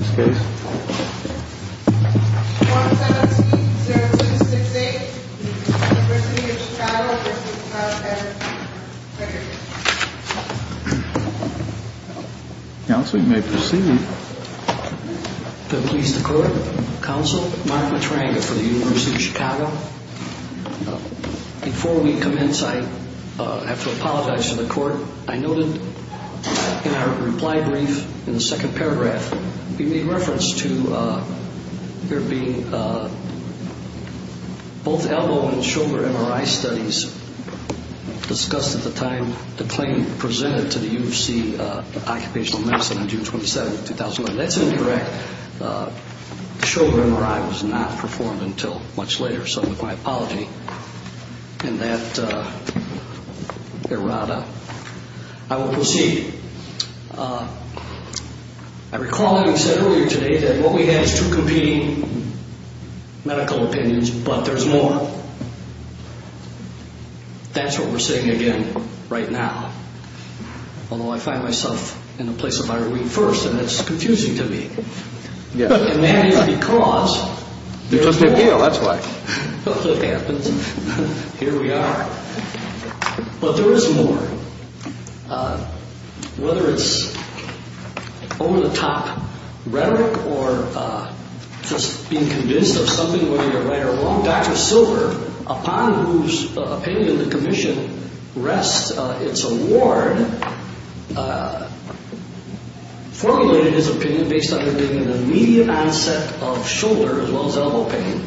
17-066-8 University of Chicago v. Workers' Compensation Comm'n Council, you may proceed. Please declare. Council, Mark Matranga for the University of Chicago. Before we commence, I have to apologize to the court. I noted in our reply brief in the second paragraph, we made reference to there being both elbow and shoulder MRI studies discussed at the time the claim presented to the U of C Occupational Medicine on June 27, 2001. That's indirect. The shoulder MRI was not performed until much later. So with my apology and that errata, I will proceed. I recall having said earlier today that what we had is two competing medical opinions, but there's more. That's what we're saying again right now. Although I find myself in the place of Irene first, and it's confusing to me. And that is because, here we are. But there is more. Whether it's over-the-top rhetoric or just being convinced of something whether you're right or wrong, Dr. Silver, upon whose opinion the commission rests its award, formulated his opinion based on there being an immediate onset of shoulder as well as elbow pain,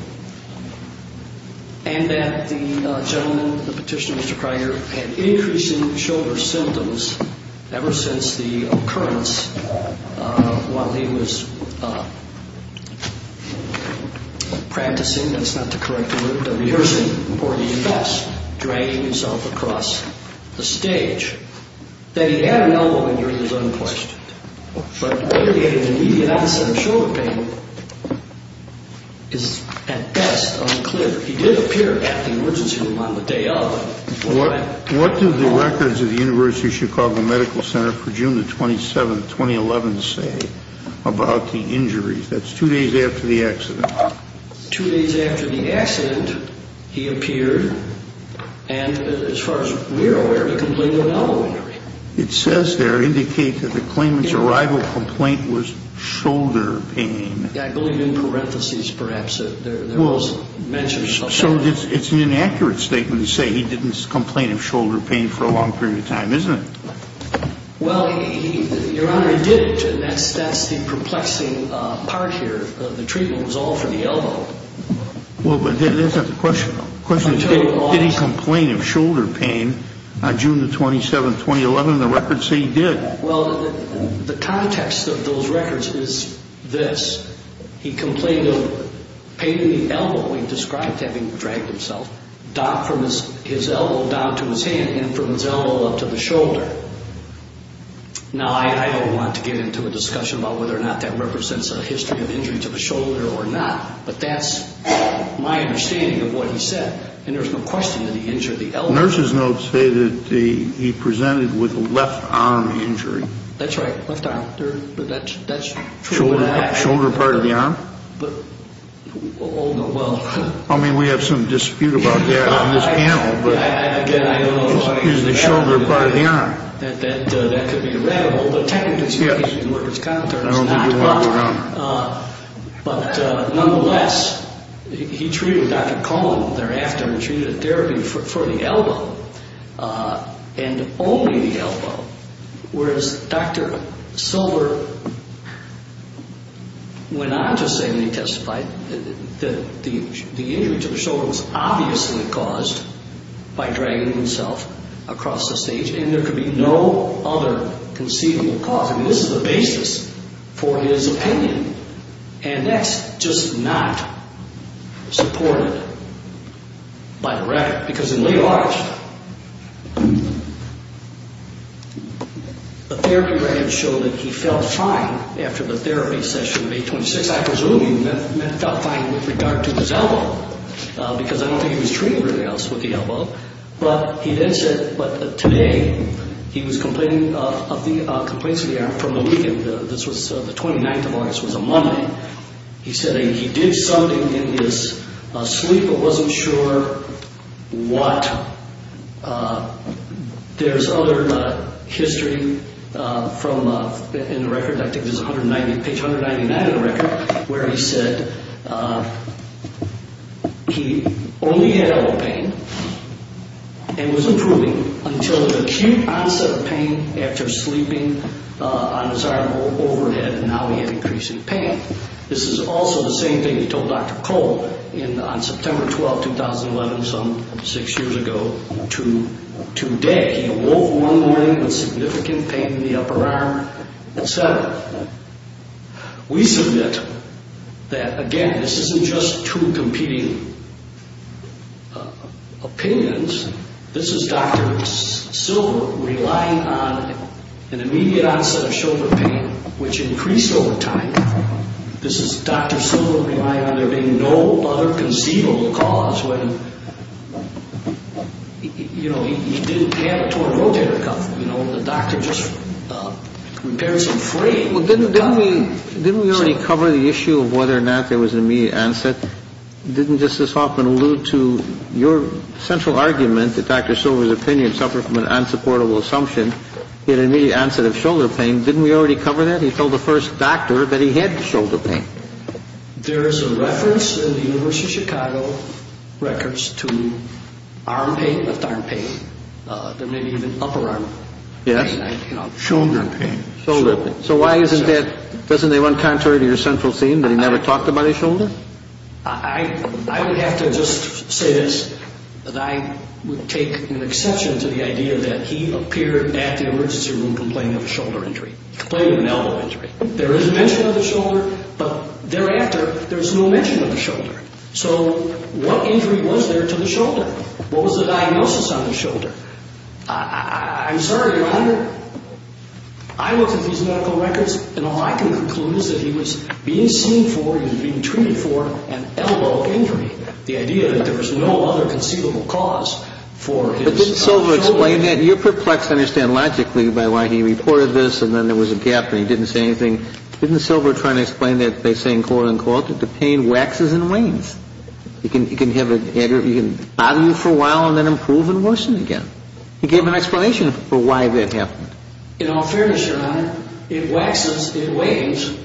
and that the gentleman, the petitioner, Mr. Kreiger, had increasing shoulder symptoms ever since the occurrence while he was practicing, that's not the correct word, rehearsing, or he was dragging himself across the stage, that he had an elbow injury is unquestioned. But the immediate onset of shoulder pain is at best unclear. He did appear at the emergency room on the day of. What do the records of the University of Chicago Medical Center for June 27, 2011 say about the injuries? That's two days after the accident. Two days after the accident, he appeared. And as far as we're aware, the complaint was elbow injury. It says there, indicate that the claimant's arrival complaint was shoulder pain. I believe in parentheses, perhaps. There was mentions of that. So it's an inaccurate statement to say he didn't complain of shoulder pain for a long period of time, isn't it? Well, Your Honor, he did. And that's the perplexing part here. The treatment was all for the elbow. Well, but that's not the question. The question is, did he complain of shoulder pain on June 27, 2011? The records say he did. Well, the context of those records is this. He complained of pain in the elbow he described having dragged himself, from his elbow down to his hand and from his elbow up to the shoulder. Now, I don't want to get into a discussion about whether or not that represents a history of injury to the shoulder or not, but that's my understanding of what he said. And there's no question of the injury of the elbow. Nurses notes say that he presented with a left arm injury. That's right, left arm. That's true of that. Shoulder part of the arm? Oh, no, well. I mean, we have some dispute about that on this panel. Again, I don't want to use the shoulder part of the arm. That could be irrevitable. The technical situation in which it's concerned is not. I don't think you want to go around. But nonetheless, he treated Dr. Coleman thereafter and treated a therapy for the elbow and only the elbow, the injury to the shoulder was obviously caused by dragging himself across the stage. And there could be no other conceivable cause. I mean, this is the basis for his opinion. And that's just not supported by the record. Because in lay large, the therapy records show that he felt fine after the therapy session of 826. I presume he felt fine with regard to his elbow because I don't think he was treating anybody else with the elbow. But he then said today he was complaining of the complaints of the arm from the weekend. This was the 29th of August. It was a Monday. He said he did something in his sleep but wasn't sure what. There's other history in the record. I think it's page 199 of the record where he said he only had elbow pain and was improving until the acute onset of pain after sleeping on his arm overhead and now he had increasing pain. This is also the same thing he told Dr. Cole on September 12, 2011, some six years ago, to Dick. He awoke one morning with significant pain in the upper arm, et cetera. We submit that, again, this isn't just two competing opinions. This is Dr. Silver relying on an immediate onset of shoulder pain, which increased over time. This is Dr. Silver relying on there being no other conceivable cause when he didn't have a torn rotator cuff. The doctor just repairs them free. Didn't we already cover the issue of whether or not there was an immediate onset? Didn't Justice Hoffman allude to your central argument that Dr. Silver's opinion suffered from an unsupportable assumption? He had an immediate onset of shoulder pain. Didn't we already cover that? He told the first doctor that he had shoulder pain. There is a reference in the University of Chicago records to arm pain, left arm pain. There may be even upper arm pain. Yes. Shoulder pain. Shoulder pain. So why isn't that, doesn't it run contrary to your central theme that he never talked about his shoulder? I would have to just say this, that I would take an exception to the idea that he appeared at the emergency room complaining of a shoulder injury, complaining of an elbow injury. There is a mention of the shoulder, but thereafter, there's no mention of the shoulder. So what injury was there to the shoulder? What was the diagnosis on the shoulder? I'm sorry, Your Honor, I looked at these medical records, and all I can conclude is that he was being seen for, he was being treated for an elbow injury. The idea that there was no other conceivable cause for his shoulder injury. But didn't Silver explain that? You're perplexed, I understand, logically, by why he reported this, and then there was a gap, and he didn't say anything. Didn't Silver try to explain that by saying quote, unquote, that the pain waxes and wanes? You can have it, Andrew, it can bother you for a while and then improve and worsen again. He gave an explanation for why that happened. In all fairness, Your Honor, it waxes and wanes,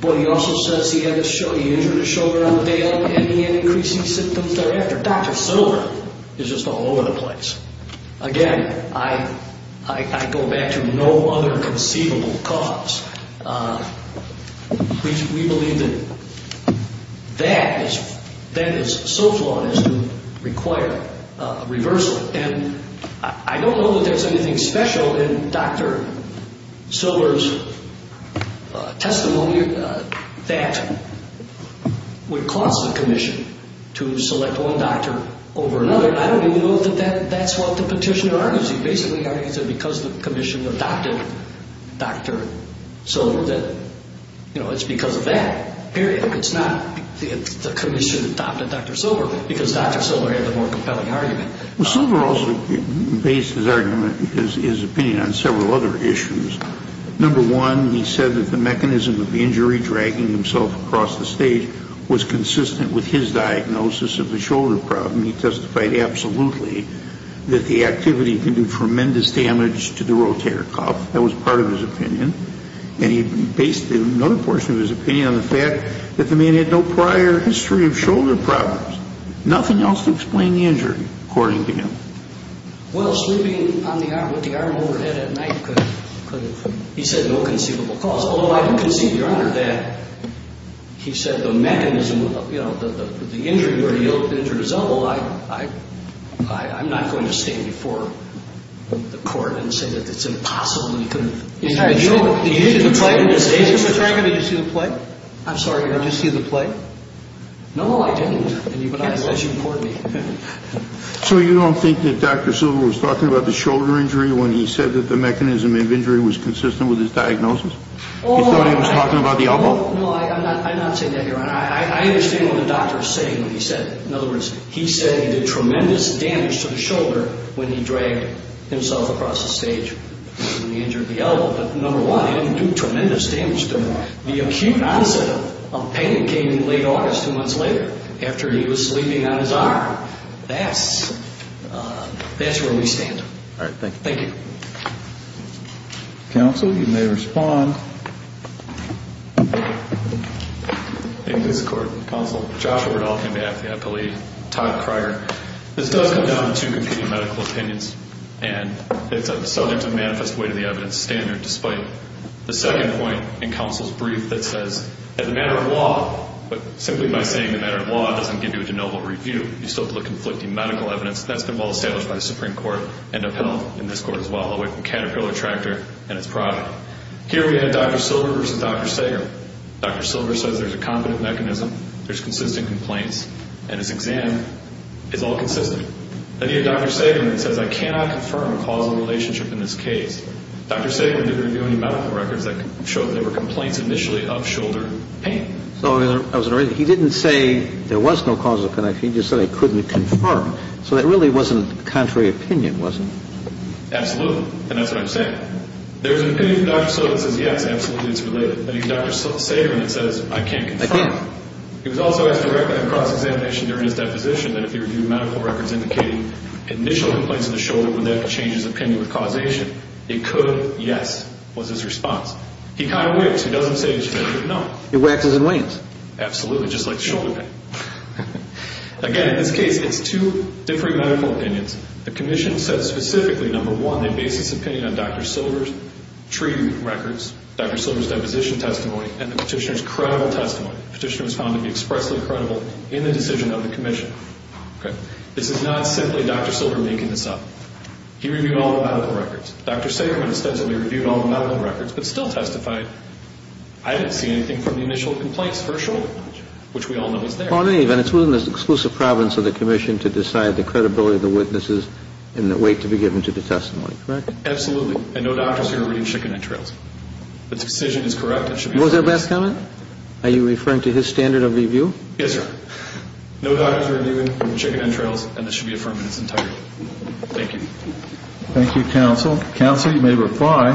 but he also says he had a shoulder, he injured a shoulder on the day of, and he had increasing symptoms thereafter. Dr. Silver is just all over the place. Again, I go back to no other conceivable cause. We believe that that is so flawed as to require a reversal, and I don't know that there's anything special in Dr. Silver's testimony that would cause the commission to select one doctor over another. I don't even know that that's what the petitioner argues. He basically argues that because the commission adopted Dr. Silver that, you know, it's because of that. Period. It's not the commission adopted Dr. Silver because Dr. Silver had the more compelling argument. Well, Silver also based his argument, his opinion on several other issues. Number one, he said that the mechanism of the injury, dragging himself across the stage, was consistent with his diagnosis of the shoulder problem. He testified absolutely that the activity can do tremendous damage to the rotator cuff. That was part of his opinion. And he based another portion of his opinion on the fact that the man had no prior history of shoulder problems, nothing else to explain the injury, according to him. Well, sleeping with the arm overhead at night could have, he said, no conceivable cause, although I do concede, Your Honor, that he said the mechanism, you know, the injury where he injured his elbow, I'm not going to stand before the court and say that it's impossible. Did you see the play? I'm sorry, Your Honor. Did you see the play? No, I didn't. As you reported me. So you don't think that Dr. Silver was talking about the shoulder injury when he said that the mechanism of injury was consistent with his diagnosis? You thought he was talking about the elbow? No, I'm not saying that, Your Honor. I understand what the doctor is saying when he said it. In other words, he said he did tremendous damage to the shoulder when he dragged himself across the stage when he injured the elbow, but, number one, he didn't do tremendous damage to it. The acute onset of pain came in late August, two months later, after he was sleeping on his arm. That's where we stand. All right, thank you. Thank you. Counsel, you may respond. Thank you, Mr. Court. Counsel, Joshua Verdal on behalf of the appellee, Todd Cryer. This does come down to two competing medical opinions, and it's subject to manifest weight of the evidence standard, despite the second point in counsel's brief that says that the matter of law, simply by saying the matter of law doesn't give you a de novo review, you still put conflicting medical evidence, and that's been well established by the Supreme Court and upheld in this court as well, away from Caterpillar Tractor and its product. Here we have Dr. Silver versus Dr. Sager. Dr. Silver says there's a competent mechanism, there's consistent complaints, and his exam is all consistent. Then you have Dr. Sager who says I cannot confirm a causal relationship in this case. Dr. Sager didn't review any medical records that showed there were complaints initially of shoulder pain. So he didn't say there was no causal connection, he just said I couldn't confirm. So that really wasn't contrary opinion, was it? Absolutely, and that's what I'm saying. There's an opinion of Dr. Silver that says, yes, absolutely, it's related, but he's Dr. Sager and he says I can't confirm. He was also asked to recommend a cross-examination during his deposition that if he reviewed medical records indicating initial complaints of the shoulder would that change his opinion with causation? It could, yes, was his response. He kind of whips, he doesn't say it's definitive, no. He whacks us in the wings. Absolutely, just like shoulder pain. Again, in this case, it's two different medical opinions. The commission says specifically, number one, they base this opinion on Dr. Silver's treatment records, Dr. Silver's deposition testimony, and the Petitioner's credible testimony. The Petitioner was found to be expressly credible in the decision of the commission. This is not simply Dr. Silver making this up. He reviewed all the medical records. Dr. Sager, when he says that he reviewed all the medical records but still testified, I didn't see anything from the initial complaints for shoulder, which we all know was there. Well, in any event, it's within the exclusive providence of the commission to decide the credibility of the witnesses in the weight to be given to the testimony, correct? Absolutely, and no doctor is here reading chicken entrails. If the decision is correct, it should be affirmed. Was there a back comment? Are you referring to his standard of review? Yes, sir. No doctor is reviewing chicken entrails, and this should be affirmed in its entirety. Thank you. Thank you, counsel. Counsel, you may reply.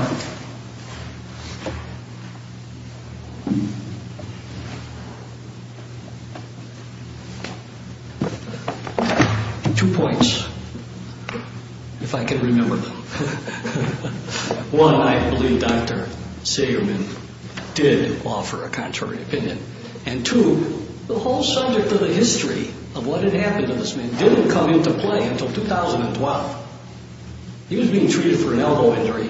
Two points, if I can remember them. One, I believe Dr. Sagerman did offer a contrary opinion. And two, the whole subject of the history of what had happened to this man didn't come into play until 2012. He was being treated for an elbow injury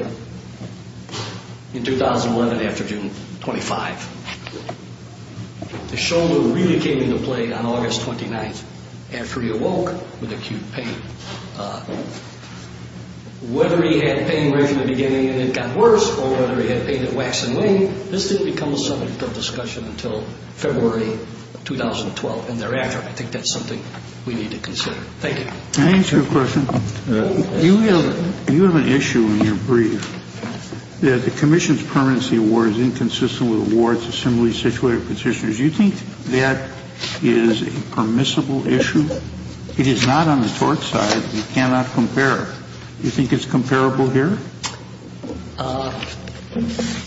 in 2011 after June 25. The shoulder really came into play on August 29th after he awoke with acute pain. Whether he had pain right from the beginning and it got worse, or whether he had pain in the waxen wing, this didn't become a subject of discussion until February 2012 and thereafter. I think that's something we need to consider. Thank you. Can I ask you a question? You have an issue when you breathe. The commission's permanency award is inconsistent with awards, assembly, situated petitioners. Do you think that is a permissible issue? It is not on the tort side. You cannot compare. Do you think it's comparable here?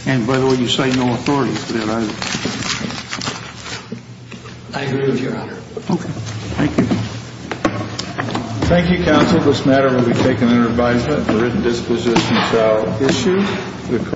And, by the way, you say no authority for that either. I agree with you, Your Honor. Okay. Thank you. Thank you, counsel. This matter will be taken under advisement for written disposition without issue.